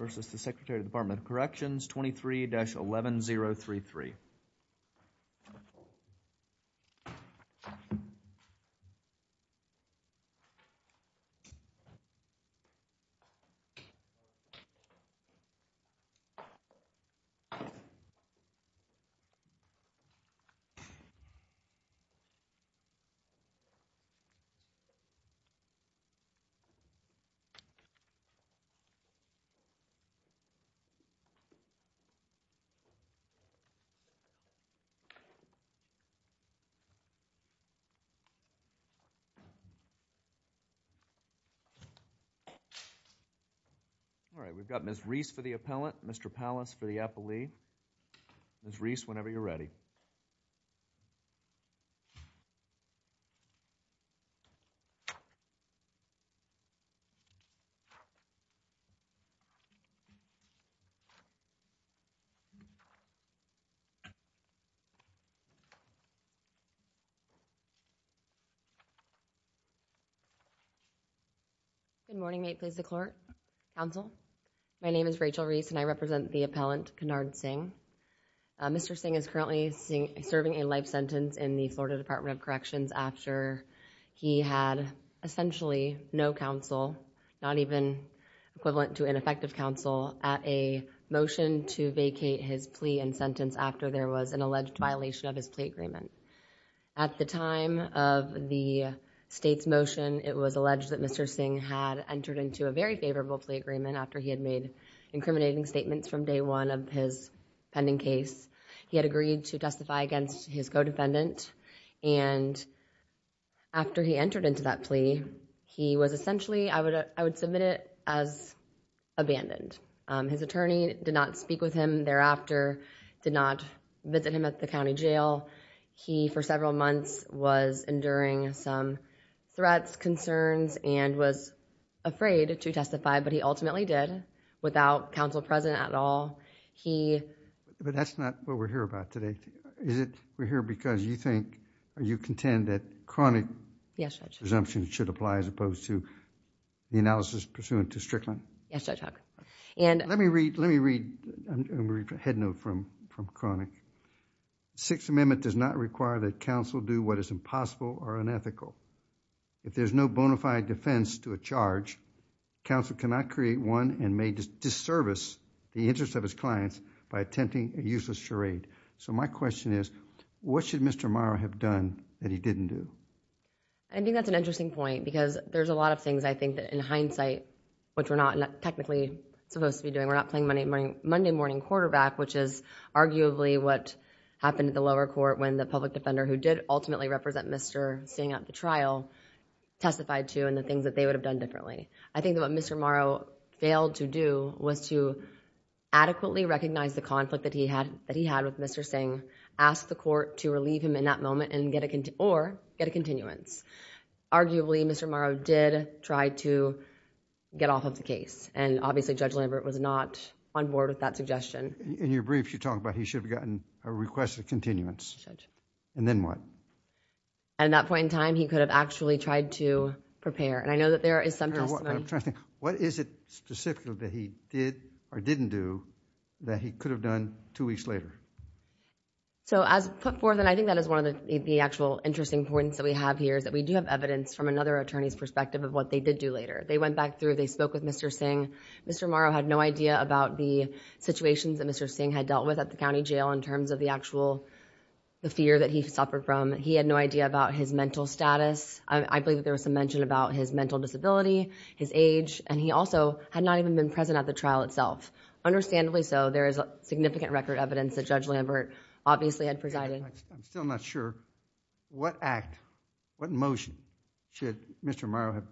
23-11033. All right, we've got Ms. Reese for the appellant, Mr. Pallas for the appellee. Ms. Reese, whenever you're ready. Good morning, May it please the Court, Counsel, my name is Rachel Reese and I represent the appellant, Kenard Singh. Mr. Singh is currently serving a life sentence in the Florida Department of Corrections after he had essentially no counsel, not even equivalent to ineffective counsel, at a motion to vacate his plea and sentence after there was an alleged violation of his plea agreement. At the time of the state's motion, it was alleged that Mr. Singh had entered into a very favorable plea agreement after he had made incriminating statements from day one of his pending case. He had agreed to testify against his co-defendant and after he entered into that plea, he was essentially, I would submit it as abandoned. His attorney did not speak with him thereafter, did not visit him at the county jail. He, for several months, was enduring some threats, concerns and was afraid to testify but he ultimately did, without counsel present at all, he... But that's not what we're here about today, is it? We're here because you think, you contend that chronic presumptions should apply as opposed to the analysis pursuant to Strickland? Yes, Judge Huck. Let me read a head note from chronic. Sixth Amendment does not require that counsel do what is impossible or unethical. If there's no bona fide defense to a charge, counsel cannot create one and may disservice the interest of his clients by attempting a useless charade. My question is, what should Mr. Morrow have done that he didn't do? I think that's an interesting point because there's a lot of things I think that in hindsight, which we're not technically supposed to be doing, we're not playing Monday morning quarterback, which is arguably what happened at the lower court when the public defender who did ultimately represent Mr. Singh at the trial testified to and the things that they would have done differently. I think that what Mr. Morrow failed to do was to adequately recognize the conflict that he had with Mr. Singh, ask the court to relieve him in that moment or get a continuance. Arguably Mr. Morrow did try to get off of the case and obviously Judge Lambert was not on board with that suggestion. In your briefs, you talk about he should have gotten a request of continuance and then what? At that point in time, he could have actually tried to prepare and I know that there is some testimony... I'm trying to think. What is it specifically that he did or didn't do that he could have done two weeks later? As put forth and I think that is one of the actual interesting points that we have here is that we do have evidence from another attorney's perspective of what they did do later. They went back through, they spoke with Mr. Singh. Mr. Morrow had no idea about the situations that Mr. Singh had dealt with at the county jail in terms of the actual fear that he suffered from. He had no idea about his mental status. I believe there was some mention about his mental disability, his age and he also had not even been present at the trial itself. Understandably so, there is significant record evidence that Judge Lambert obviously had presided. I'm still not sure what act, what motion should Mr. Morrow have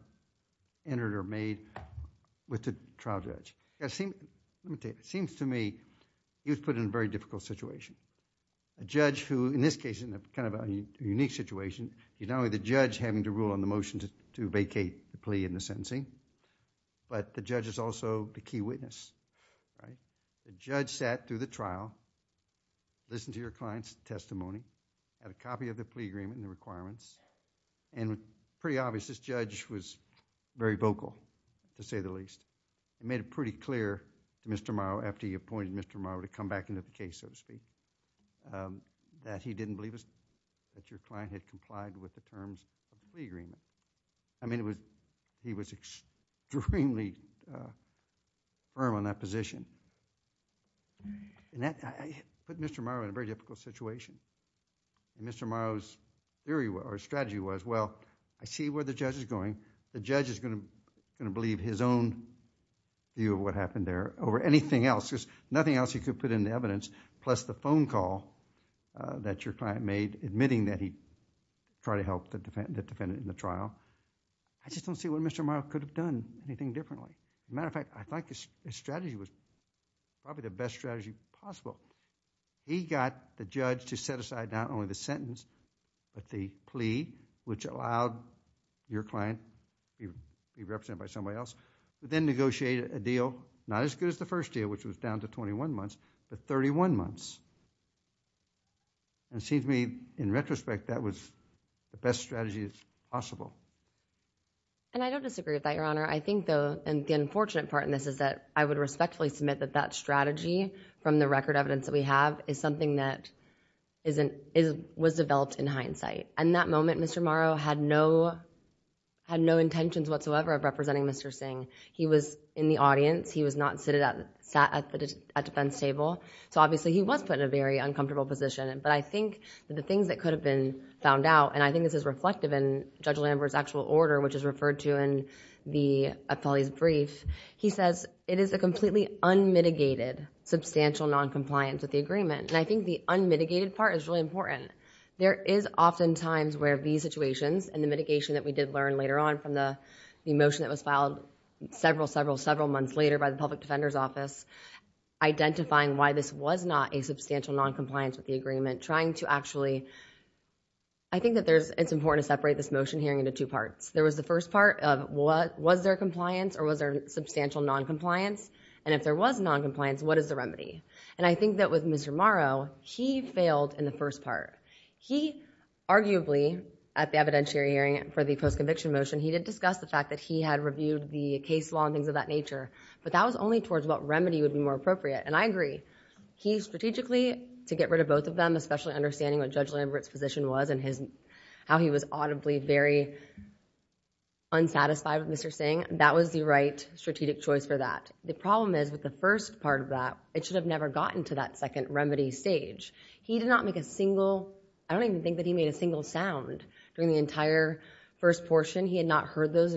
entered or made with the trial judge. Let me tell you, it seems to me he was put in a very difficult situation. A judge who, in this case, in kind of a unique situation, you know the judge having to rule on the motion to vacate the plea and the sentencing, but the judge is also the key witness, right? The judge sat through the trial, listened to your client's testimony, had a copy of the plea agreement and the requirements and pretty obvious this judge was very vocal to say the least. He made it pretty clear to Mr. Morrow after he appointed Mr. Morrow to come back into the case, so to speak, that he didn't believe that your client had complied with the terms of the plea agreement. I mean, he was extremely firm on that position, and that put Mr. Morrow in a very difficult situation. Mr. Morrow's theory or strategy was, well, I see where the judge is going. The judge is going to believe his own view of what happened there over anything else. Nothing else he could put in the evidence plus the phone call that your client made admitting that he tried to help the defendant in the trial. I just don't see what Mr. Morrow could have done anything differently. As a matter of fact, I think his strategy was probably the best strategy possible. He got the judge to set aside not only the sentence, but the plea which allowed your client to be represented by somebody else, but then negotiated a deal, not as good as the first deal which was down to twenty-one months, but thirty-one months. It seems to me, in retrospect, that was the best strategy possible. And I don't disagree with that, Your Honor. I think, though, and the unfortunate part in this is that I would respectfully submit that that strategy from the record evidence that we have is something that was developed in hindsight. In that moment, Mr. Morrow had no intentions whatsoever of representing Mr. Singh. He was in the audience. He was not sat at the defense table. Obviously, he was put in a very uncomfortable position, but I think the things that could have been found out, and I think this is reflective in Judge Lambert's actual order which is referred to in the appellee's brief, he says, it is a completely unmitigated substantial noncompliance with the agreement. I think the unmitigated part is really important. There is oftentimes where these situations and the mitigation that we did learn later on from the motion that was filed several, several, several months later by the Public Defender's Office, identifying why this was not a substantial noncompliance with the agreement, trying to actually... I think that it's important to separate this motion hearing into two parts. There was the first part of was there compliance or was there substantial noncompliance? And if there was noncompliance, what is the remedy? And I think that with Mr. Morrow, he failed in the first part. He arguably, at the evidentiary hearing for the post-conviction motion, he did discuss the fact that he had reviewed the case law and things of that nature, but that was only towards what remedy would be more appropriate. And I agree, he strategically, to get rid of both of them, especially understanding what Judge Lambert's position was and how he was audibly very unsatisfied with Mr. Singh, that was the right strategic choice for that. The problem is with the first part of that, it should have never gotten to that second remedy stage. He did not make a single, I don't even think that he made a single sound during the entire first portion. He had not heard the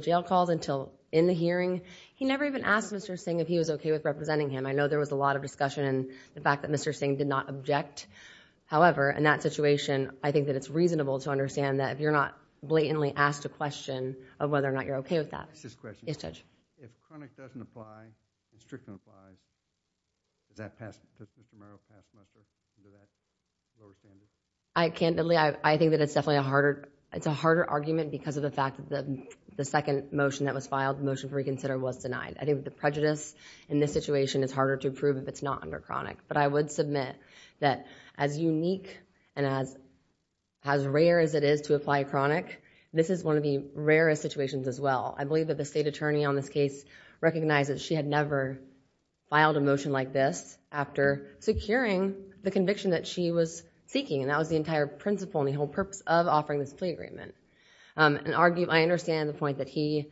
jail calls until in the hearing. He never even asked Mr. Singh if he was okay with representing him. I know there was a lot of discussion and the fact that Mr. Singh did not object. However, in that situation, I think that it's reasonable to understand that if you're not blatantly asked a question of whether or not you're okay with that. Yes, Judge. If chronic doesn't apply, restriction applies, does that pass, does Mr. Murrow pass a message under that? I think that Mr. Murrow, in this case, recognizes she had never filed a motion like this after securing the conviction that she was seeking. That was the entire principle and the whole purpose of offering this plea agreement. I understand the point that he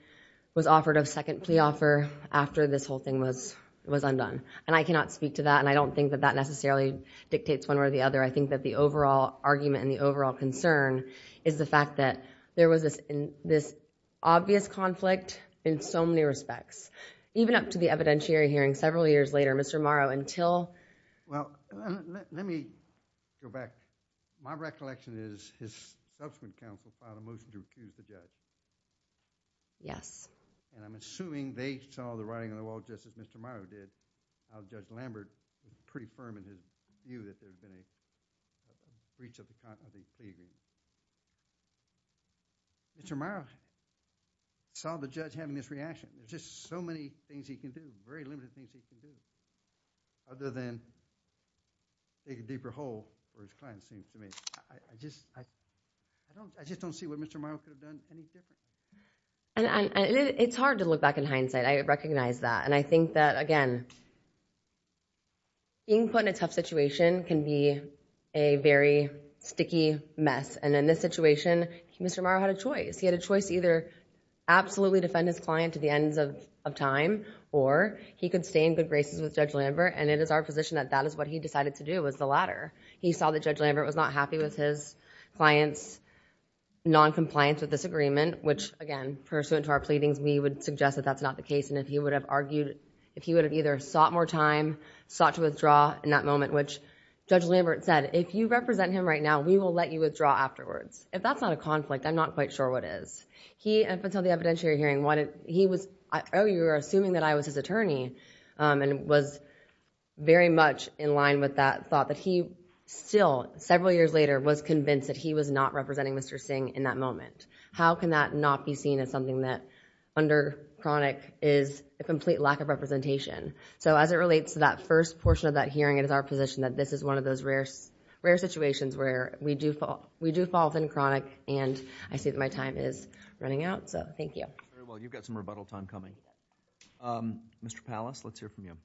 was offered a second plea offer after this whole thing was undone. I cannot speak to that and I don't think that that necessarily dictates one way or the other. I think that the overall argument and the overall concern is the fact that there was this obvious conflict in so many respects, even up to the evidentiary hearing several years later. Mr. Murrow, until... Let me go back. My recollection is his subsequent counsel filed a motion to accuse the judge. Yes. I'm assuming they saw the writing on the wall just as Mr. Murrow did. Judge Lambert was pretty firm in his view that there had been a breach of the content of his plea agreement. I just don't see what Mr. Murrow could have done any differently. It's hard to look back in hindsight. I recognize that and I think that, again, being put in a tough situation can be a very sticky mess. In this situation, Mr. Murrow had a choice. He had a choice to either absolutely defend his client to the ends of time or he could stay in good graces with Judge Lambert and it is our position that that is what he decided to do, was the latter. He saw that Judge Lambert was not happy with his client's noncompliance with this agreement which, again, pursuant to our pleadings, we would suggest that that's not the case and if he would have argued... if he would have either sought more time, sought to withdraw in that moment, which Judge Lambert said, if you represent him right now, we will let you withdraw afterwards. If that's not a conflict, I'm not quite sure what is. He, until the evidentiary hearing, wanted... he was... oh, you're assuming that I was his attorney and was very much in line with that thought that he still, several years later, was convinced that he was not representing Mr. Singh in that moment. How can that not be seen as something that under Chronic is a complete lack of representation? So, as it relates to that first portion of that hearing, it is our position that this is one of those rare situations where we do fall within Chronic and I see that my time is running out. So, thank you. Very well. You've got some rebuttal time coming. Mr. Pallas, let's hear from you.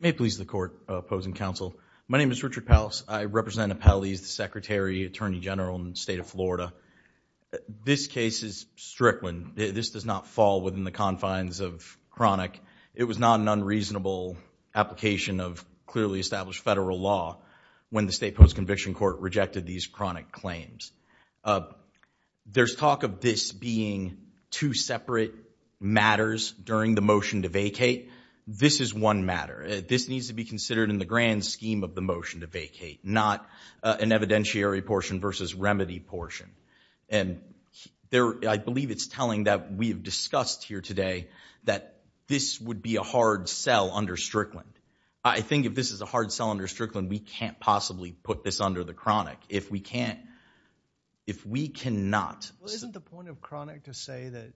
May it please the Court, Opposing Counsel, my name is Richard Pallas. I represent Appellees, the Secretary, Attorney General in the State of Florida. This case is strickland. This does not fall within the confines of Chronic. It was not an unreasonable application of clearly established federal law when the State Post-Conviction Court rejected these Chronic claims. There's talk of this being two separate matters during the motion to vacate. This is one matter. This needs to be considered in the grand scheme of the motion to vacate, not an evidentiary portion versus remedy portion. And I believe it's telling that we have discussed here today that this would be a hard sell under Strickland. I think if this is a hard sell under Strickland, we can't possibly put this under the Chronic. If we can't, if we cannot. Well, isn't the point of Chronic to say that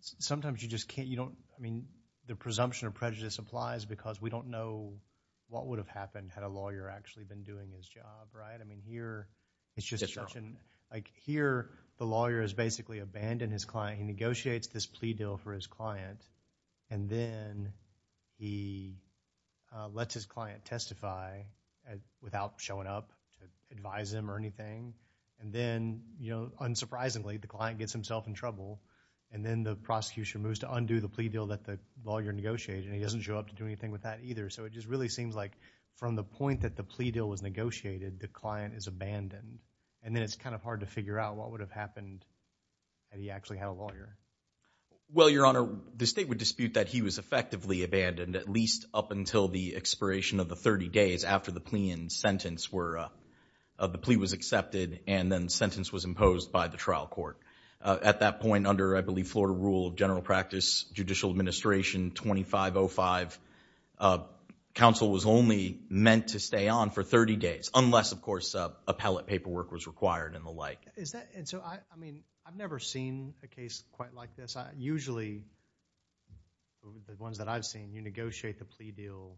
sometimes you just can't, you don't, I mean, the presumption of prejudice applies because we don't know what would have happened had a lawyer actually been doing his job, right? I mean, here, it's just such an, like, here, the lawyer has basically abandoned his client. He negotiates this plea deal for his client, and then he lets his client testify without showing up to advise him or anything. And then, you know, unsurprisingly, the client gets himself in trouble, and then the prosecution moves to undo the plea deal that the lawyer negotiated, and he doesn't show up to do anything with that either. So it just really seems like from the point that the plea deal was negotiated, the client is abandoned. And then it's kind of hard to figure out what would have happened had he actually had a Well, Your Honor, the state would dispute that he was effectively abandoned at least up until the expiration of the 30 days after the plea and sentence were, the plea was accepted and then the sentence was imposed by the trial court. At that point, under, I believe, Florida rule of general practice, Judicial Administration 2505, counsel was only meant to stay on for 30 days, unless, of course, appellate paperwork was required and the like. Is that, and so, I mean, I've never seen a case quite like this. Usually, the ones that I've seen, you negotiate the plea deal,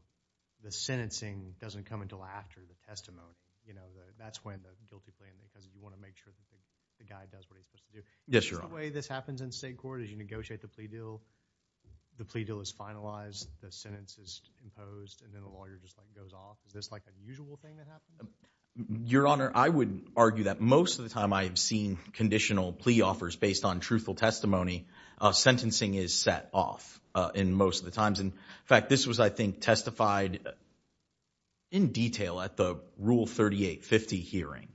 the sentencing doesn't come until after the testimony. You know, that's when the guilty plea, because you want to make sure the guy does what he's supposed to do. Yes, Your Honor. Is this the way this happens in state court? Is you negotiate the plea deal, the plea deal is finalized, the sentence is imposed, and then the lawyer just goes off? Is this like a usual thing that happens? Your Honor, I would argue that most of the time I have seen conditional plea offers based on truthful testimony, sentencing is set off in most of the times. In fact, this was, I think, testified in detail at the Rule 3850 hearing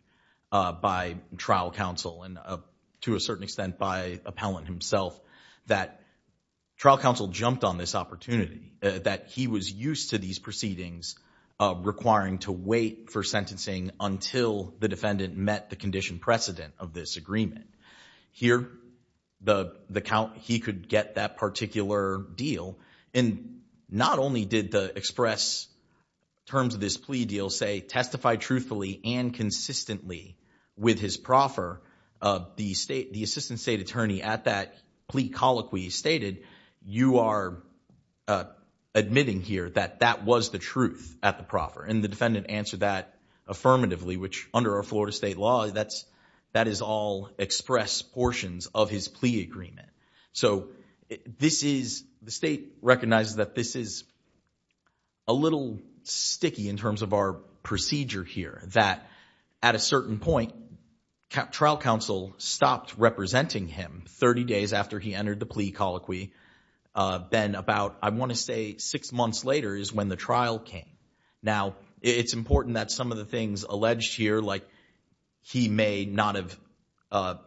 by trial counsel and to a certain extent by appellant himself, that trial counsel jumped on this opportunity, that he was used to these proceedings requiring to wait for sentencing until the defendant met the condition precedent of this agreement. Here he could get that particular deal, and not only did the express terms of this plea deal say, testified truthfully and consistently with his proffer, the assistant state attorney at that plea colloquy stated, you are admitting here that that was the truth at the proffer, and the defendant answered that affirmatively, which under our Florida state law, that is all expressed portions of his plea agreement. So this is, the state recognizes that this is a little sticky in terms of our procedure here that at a certain point, trial counsel stopped representing him 30 days after he entered the plea colloquy, then about, I want to say, six months later is when the trial came. Now, it's important that some of the things alleged here, like he may not have,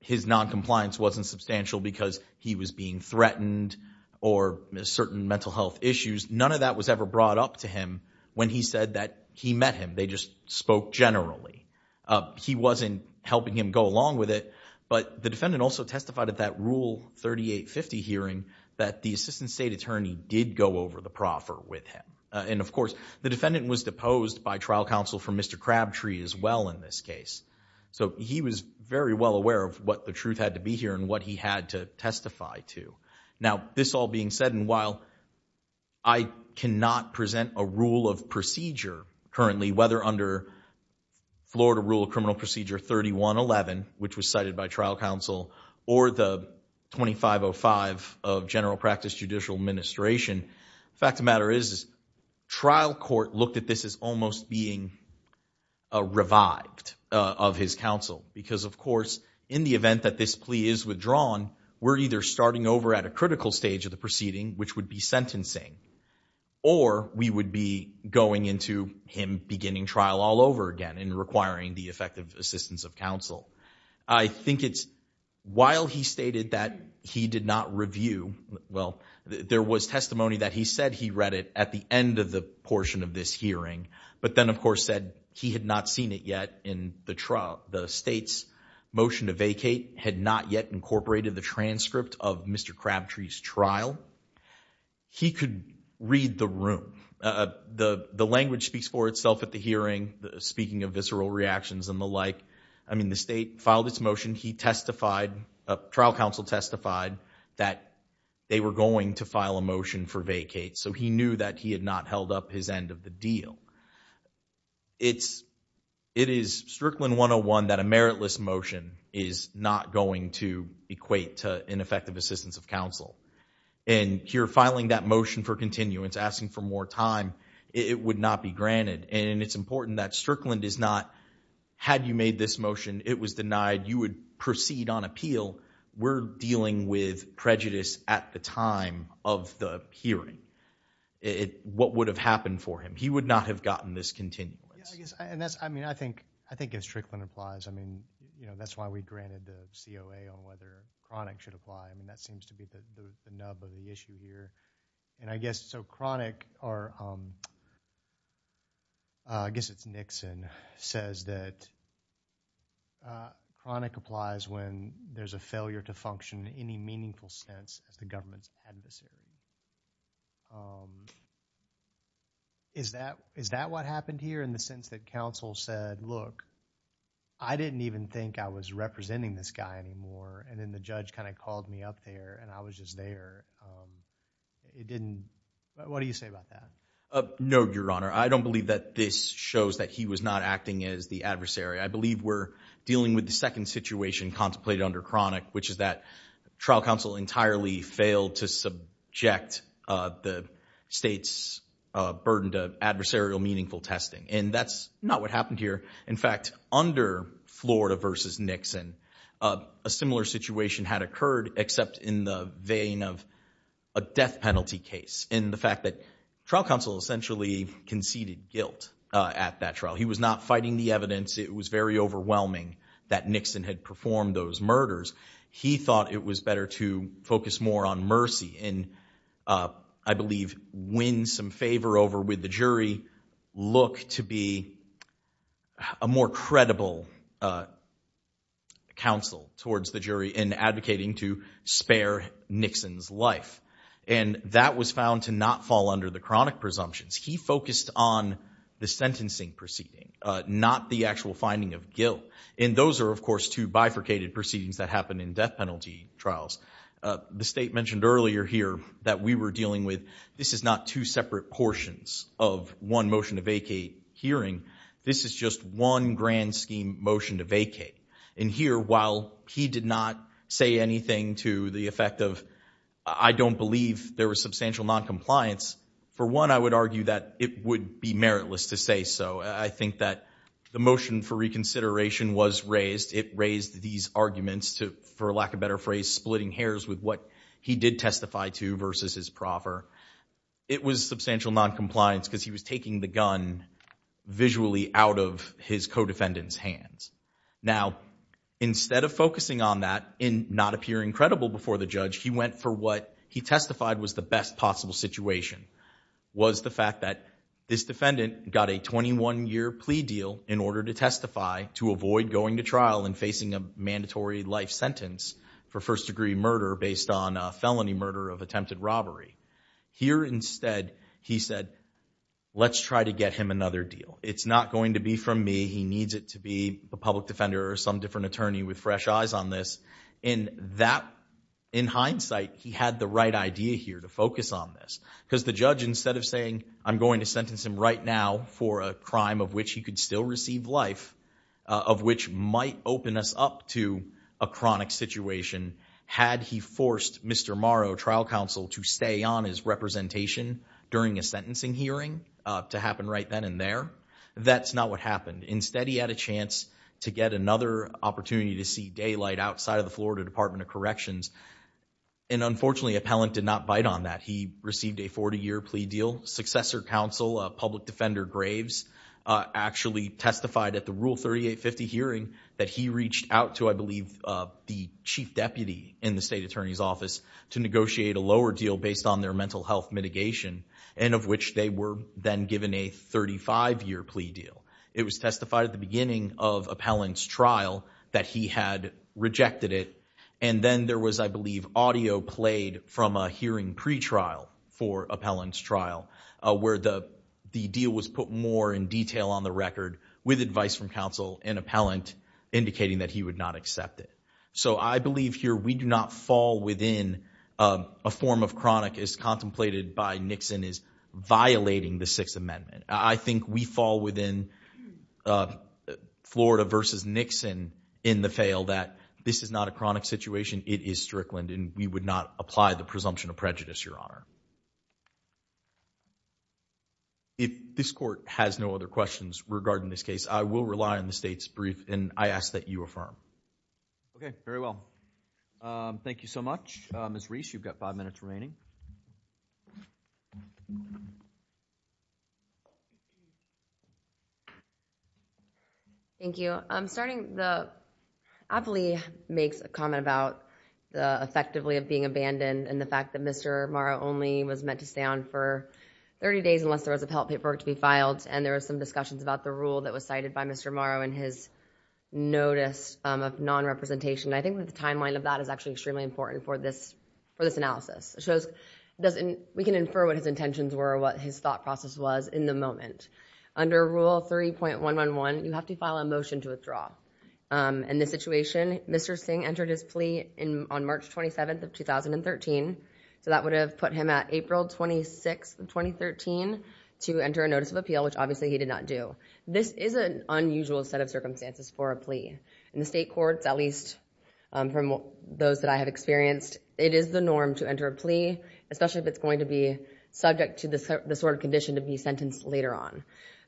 his non-compliance wasn't substantial because he was being threatened, or certain mental health issues, none of that was ever brought up to him when he said that he met him, they just spoke generally. He wasn't helping him go along with it, but the defendant also testified at that rule 3850 hearing that the assistant state attorney did go over the proffer with him, and of course, the defendant was deposed by trial counsel for Mr. Crabtree as well in this case. So he was very well aware of what the truth had to be here and what he had to testify to. Now, this all being said, and while I cannot present a rule of procedure currently, whether under Florida Rule of Criminal Procedure 3111, which was cited by trial counsel, or the 2505 of General Practice Judicial Administration, fact of the matter is, trial court looked at this as almost being revived of his counsel, because of course, in the event that this plea is withdrawn, we're either starting over at a critical stage of the proceeding, which would be sentencing, or we would be going into him beginning trial all over again and requiring the effective assistance of counsel. I think it's, while he stated that he did not review, well, there was testimony that he said he read it at the end of the portion of this hearing, but then, of course, said he had not seen it yet in the trial. The state's motion to vacate had not yet incorporated the transcript of Mr. Crabtree's trial. He could read the room. The language speaks for itself at the hearing, speaking of visceral reactions and the like. I mean, the state filed its motion, he testified, trial counsel testified that they were going to file a motion for vacate, so he knew that he had not held up his end of the deal. It is Strickland 101 that a meritless motion is not going to equate to ineffective assistance of counsel, and here, filing that motion for continuance, asking for more time, it would not be granted, and it's important that Strickland does not, had you made this motion, it was denied, you would proceed on appeal. We're dealing with prejudice at the time of the hearing. What would have happened for him? He would not have gotten this continuance. Yeah, I guess, and that's, I mean, I think as Strickland applies, I mean, you know, that's why we granted the COA on whether Cronick should apply, and that seems to be the nub of the issue here. And I guess, so Cronick, or I guess it's Nixon, says that Cronick applies when there's a failure to function in any meaningful sense as the government's adversary. Is that what happened here, in the sense that counsel said, look, I didn't even think I was representing this guy anymore, and then the judge kind of called me up there, and I was just there. It didn't, what do you say about that? No, Your Honor. I don't believe that this shows that he was not acting as the adversary. I believe we're dealing with the second situation contemplated under Cronick, which is that trial counsel entirely failed to subject the state's burden to adversarial meaningful testing. And that's not what happened here. In fact, under Florida versus Nixon, a similar situation had occurred, except in the vein of a death penalty case, and the fact that trial counsel essentially conceded guilt at that trial. He was not fighting the evidence. It was very overwhelming that Nixon had performed those murders. He thought it was better to focus more on mercy and, I believe, win some favor over with the jury, look to be a more credible counsel towards the jury in advocating to spare Nixon's life. And that was found to not fall under the Cronick presumptions. He focused on the sentencing proceeding, not the actual finding of guilt. And those are, of course, two bifurcated proceedings that happen in death penalty trials. The state mentioned earlier here that we were dealing with, this is not two separate portions of one motion to vacate hearing. This is just one grand scheme motion to vacate. And here, while he did not say anything to the effect of, I don't believe there was substantial noncompliance, for one, I would argue that it would be meritless to say so. I think that the motion for reconsideration was raised. It raised these arguments to, for lack of better phrase, splitting hairs with what he did testify to versus his proffer. It was substantial noncompliance because he was taking the gun visually out of his co-defendant's Now, instead of focusing on that and not appearing credible before the judge, he went for what he testified was the best possible situation, was the fact that this defendant got a 21-year plea deal in order to testify to avoid going to trial and facing a mandatory life sentence for first-degree murder based on felony murder of attempted robbery. Here instead, he said, let's try to get him another deal. It's not going to be from me. He needs it to be a public defender or some different attorney with fresh eyes on this. In hindsight, he had the right idea here to focus on this. Because the judge, instead of saying, I'm going to sentence him right now for a crime of which he could still receive life, of which might open us up to a chronic situation, had he forced Mr. Morrow, trial counsel, to stay on his representation during a sentencing hearing to happen right then and there. That's not what happened. Instead, he had a chance to get another opportunity to see daylight outside of the Florida Department of Corrections. And unfortunately, appellant did not bite on that. He received a 40-year plea deal. Successor counsel, public defender Graves, actually testified at the Rule 3850 hearing that he reached out to, I believe, the chief deputy in the state attorney's office to negotiate a lower deal based on their mental health mitigation, and of which they were then given a 35-year plea deal. It was testified at the beginning of appellant's trial that he had rejected it. And then there was, I believe, audio played from a hearing pretrial for appellant's trial where the deal was put more in detail on the record with advice from counsel and appellant indicating that he would not accept it. So I believe here we do not fall within a form of chronic as contemplated by Nixon as violating the Sixth Amendment. I think we fall within Florida versus Nixon in the fail that this is not a chronic situation, it is Strickland, and we would not apply the presumption of prejudice, your honor. If this court has no other questions regarding this case, I will rely on the state's brief, and I ask that you affirm. Okay, very well. Thank you so much. Ms. Reese, you've got five minutes remaining. Thank you. I'm starting, the appellee makes a comment about the effectively of being abandoned and the fact that Mr. Morrow only was meant to stay on for 30 days unless there was a health paperwork to be filed, and there was some discussions about the rule that was cited by Mr. Morrow in his notice of non-representation. I think the timeline of that is actually extremely important for this analysis. It shows, we can infer what his intentions were, what his thought process was in the moment. Under Rule 3.111, you have to file a motion to withdraw. In this situation, Mr. Singh entered his plea on March 27th of 2013, so that would have put him at April 26th of 2013 to enter a notice of appeal, which obviously he did not do. This is an unusual set of circumstances for a plea. In the state courts, at least from those that I have experienced, it is the norm to enter a plea, especially if it's going to be subject to the sort of condition to be sentenced later on.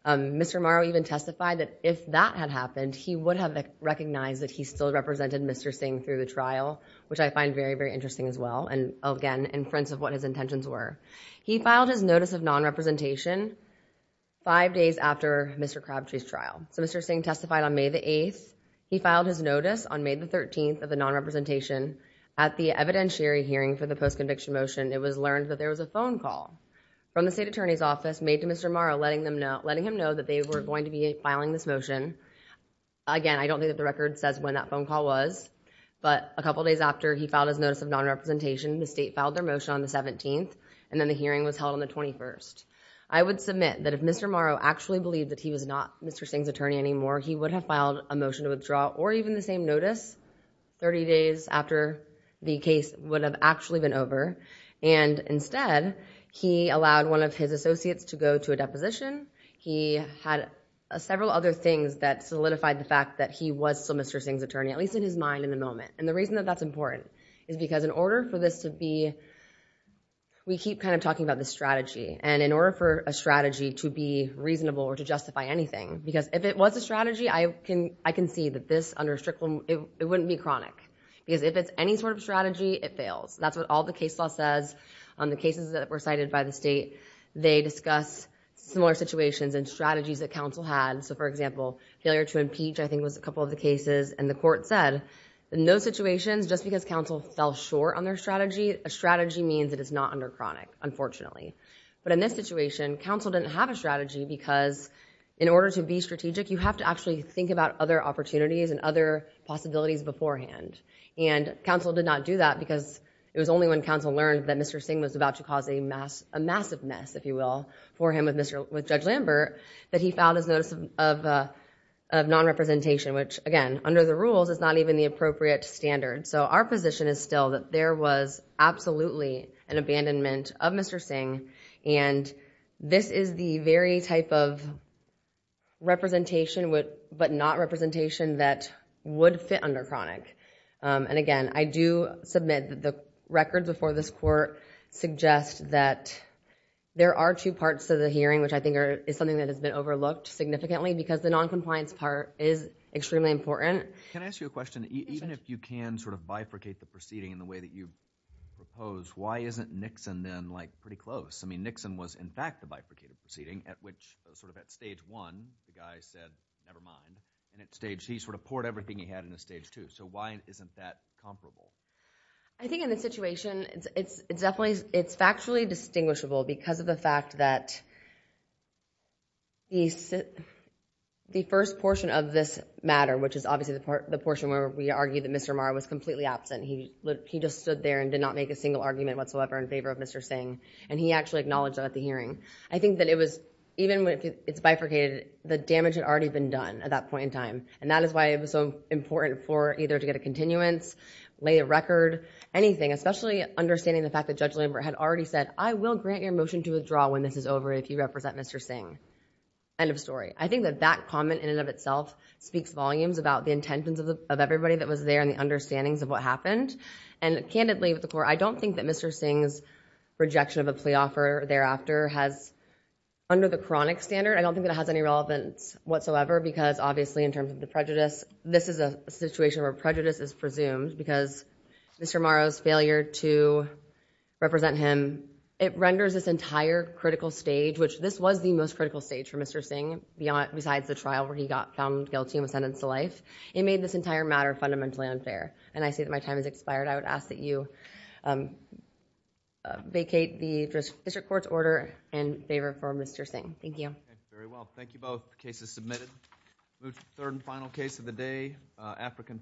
Mr. Morrow even testified that if that had happened, he would have recognized that he still represented Mr. Singh through the trial, which I find very, very interesting as well, and again, in front of what his intentions were. He filed his notice of non-representation five days after Mr. Crabtree's trial. So Mr. Singh testified on May the 8th. He filed his notice on May the 13th of the non-representation at the evidentiary hearing for the post-conviction motion. It was learned that there was a phone call from the state attorney's office made to Mr. Morrow, letting him know that they were going to be filing this motion. Again, I don't think that the record says when that phone call was, but a couple days after he filed his notice of non-representation, the state filed their motion on the 17th, and then the hearing was held on the 21st. I would submit that if Mr. Morrow actually believed that he was not Mr. Singh's attorney anymore, he would have filed a motion to withdraw, or even the same notice, 30 days after the case would have actually been over. And instead, he allowed one of his associates to go to a deposition. He had several other things that solidified the fact that he was still Mr. Singh's attorney, at least in his mind in the moment. And the reason that that's important is because in order for this to be, we keep kind of talking about this strategy, and in order for a strategy to be reasonable or to justify anything, because if it was a strategy, I can see that this, under a strict rule, it wouldn't be chronic. Because if it's any sort of strategy, it fails. That's what all the case law says. On the cases that were cited by the state, they discuss similar situations and strategies that counsel had. So for example, failure to impeach, I think, was a couple of the cases. And the court said, in those situations, just because counsel fell short on their strategy, a strategy means it is not under chronic, unfortunately. But in this situation, counsel didn't have a strategy, because in order to be strategic, you have to actually think about other opportunities and other possibilities beforehand. And counsel did not do that, because it was only when counsel learned that Mr. Singh was about to cause a massive mess, if you will, for him with Judge Lambert, that he filed his notice of non-representation, which, again, under the rules, is not even the appropriate standard. So our position is still that there was absolutely an abandonment of Mr. Singh, and this is the very type of representation, but not representation, that would fit under chronic. And again, I do submit that the records before this court suggest that there are two parts to the hearing, which I think is something that has been overlooked significantly, because the non-compliance part is extremely important. Can I ask you a question? Even if you can sort of bifurcate the proceeding in the way that you propose, why isn't Nixon then pretty close? I mean, Nixon was, in fact, the bifurcated proceeding, at which, sort of at stage one, the guy said, never mind. And at stage two, he sort of poured everything he had into stage two, so why isn't that comparable? I think in this situation, it's factually distinguishable, because of the fact that the first portion of this matter, which is obviously the portion where we argue that Mr. Marr was completely absent, he just stood there and did not make a single argument whatsoever in favor of Mr. Singh, and he actually acknowledged that at the hearing. I think that it was, even if it's bifurcated, the damage had already been done at that point in time. And that is why it was so important for either to get a continuance, lay a record, anything, especially understanding the fact that Judge Lambert had already said, I will grant your motion to withdraw when this is over if you represent Mr. Singh. End of story. I think that that comment, in and of itself, speaks volumes about the intentions of everybody that was there and the understandings of what happened. And candidly, at the court, I don't think that Mr. Singh's rejection of a plea offer thereafter has, under the chronic standard, I don't think it has any relevance whatsoever, because obviously, in terms of the prejudice, this is a situation where prejudice is presumed, because Mr. Marr's failure to represent him, it renders this entire critical stage, which this was the most critical stage for Mr. Singh, besides the trial where he got found guilty and was sentenced to life, it made this entire matter fundamentally unfair. And I see that my time has expired. I would ask that you vacate the District Court's order in favor for Mr. Singh. Thank you. Thank you very well. Thank you both. The case is submitted. We'll move to the third and final case of the day.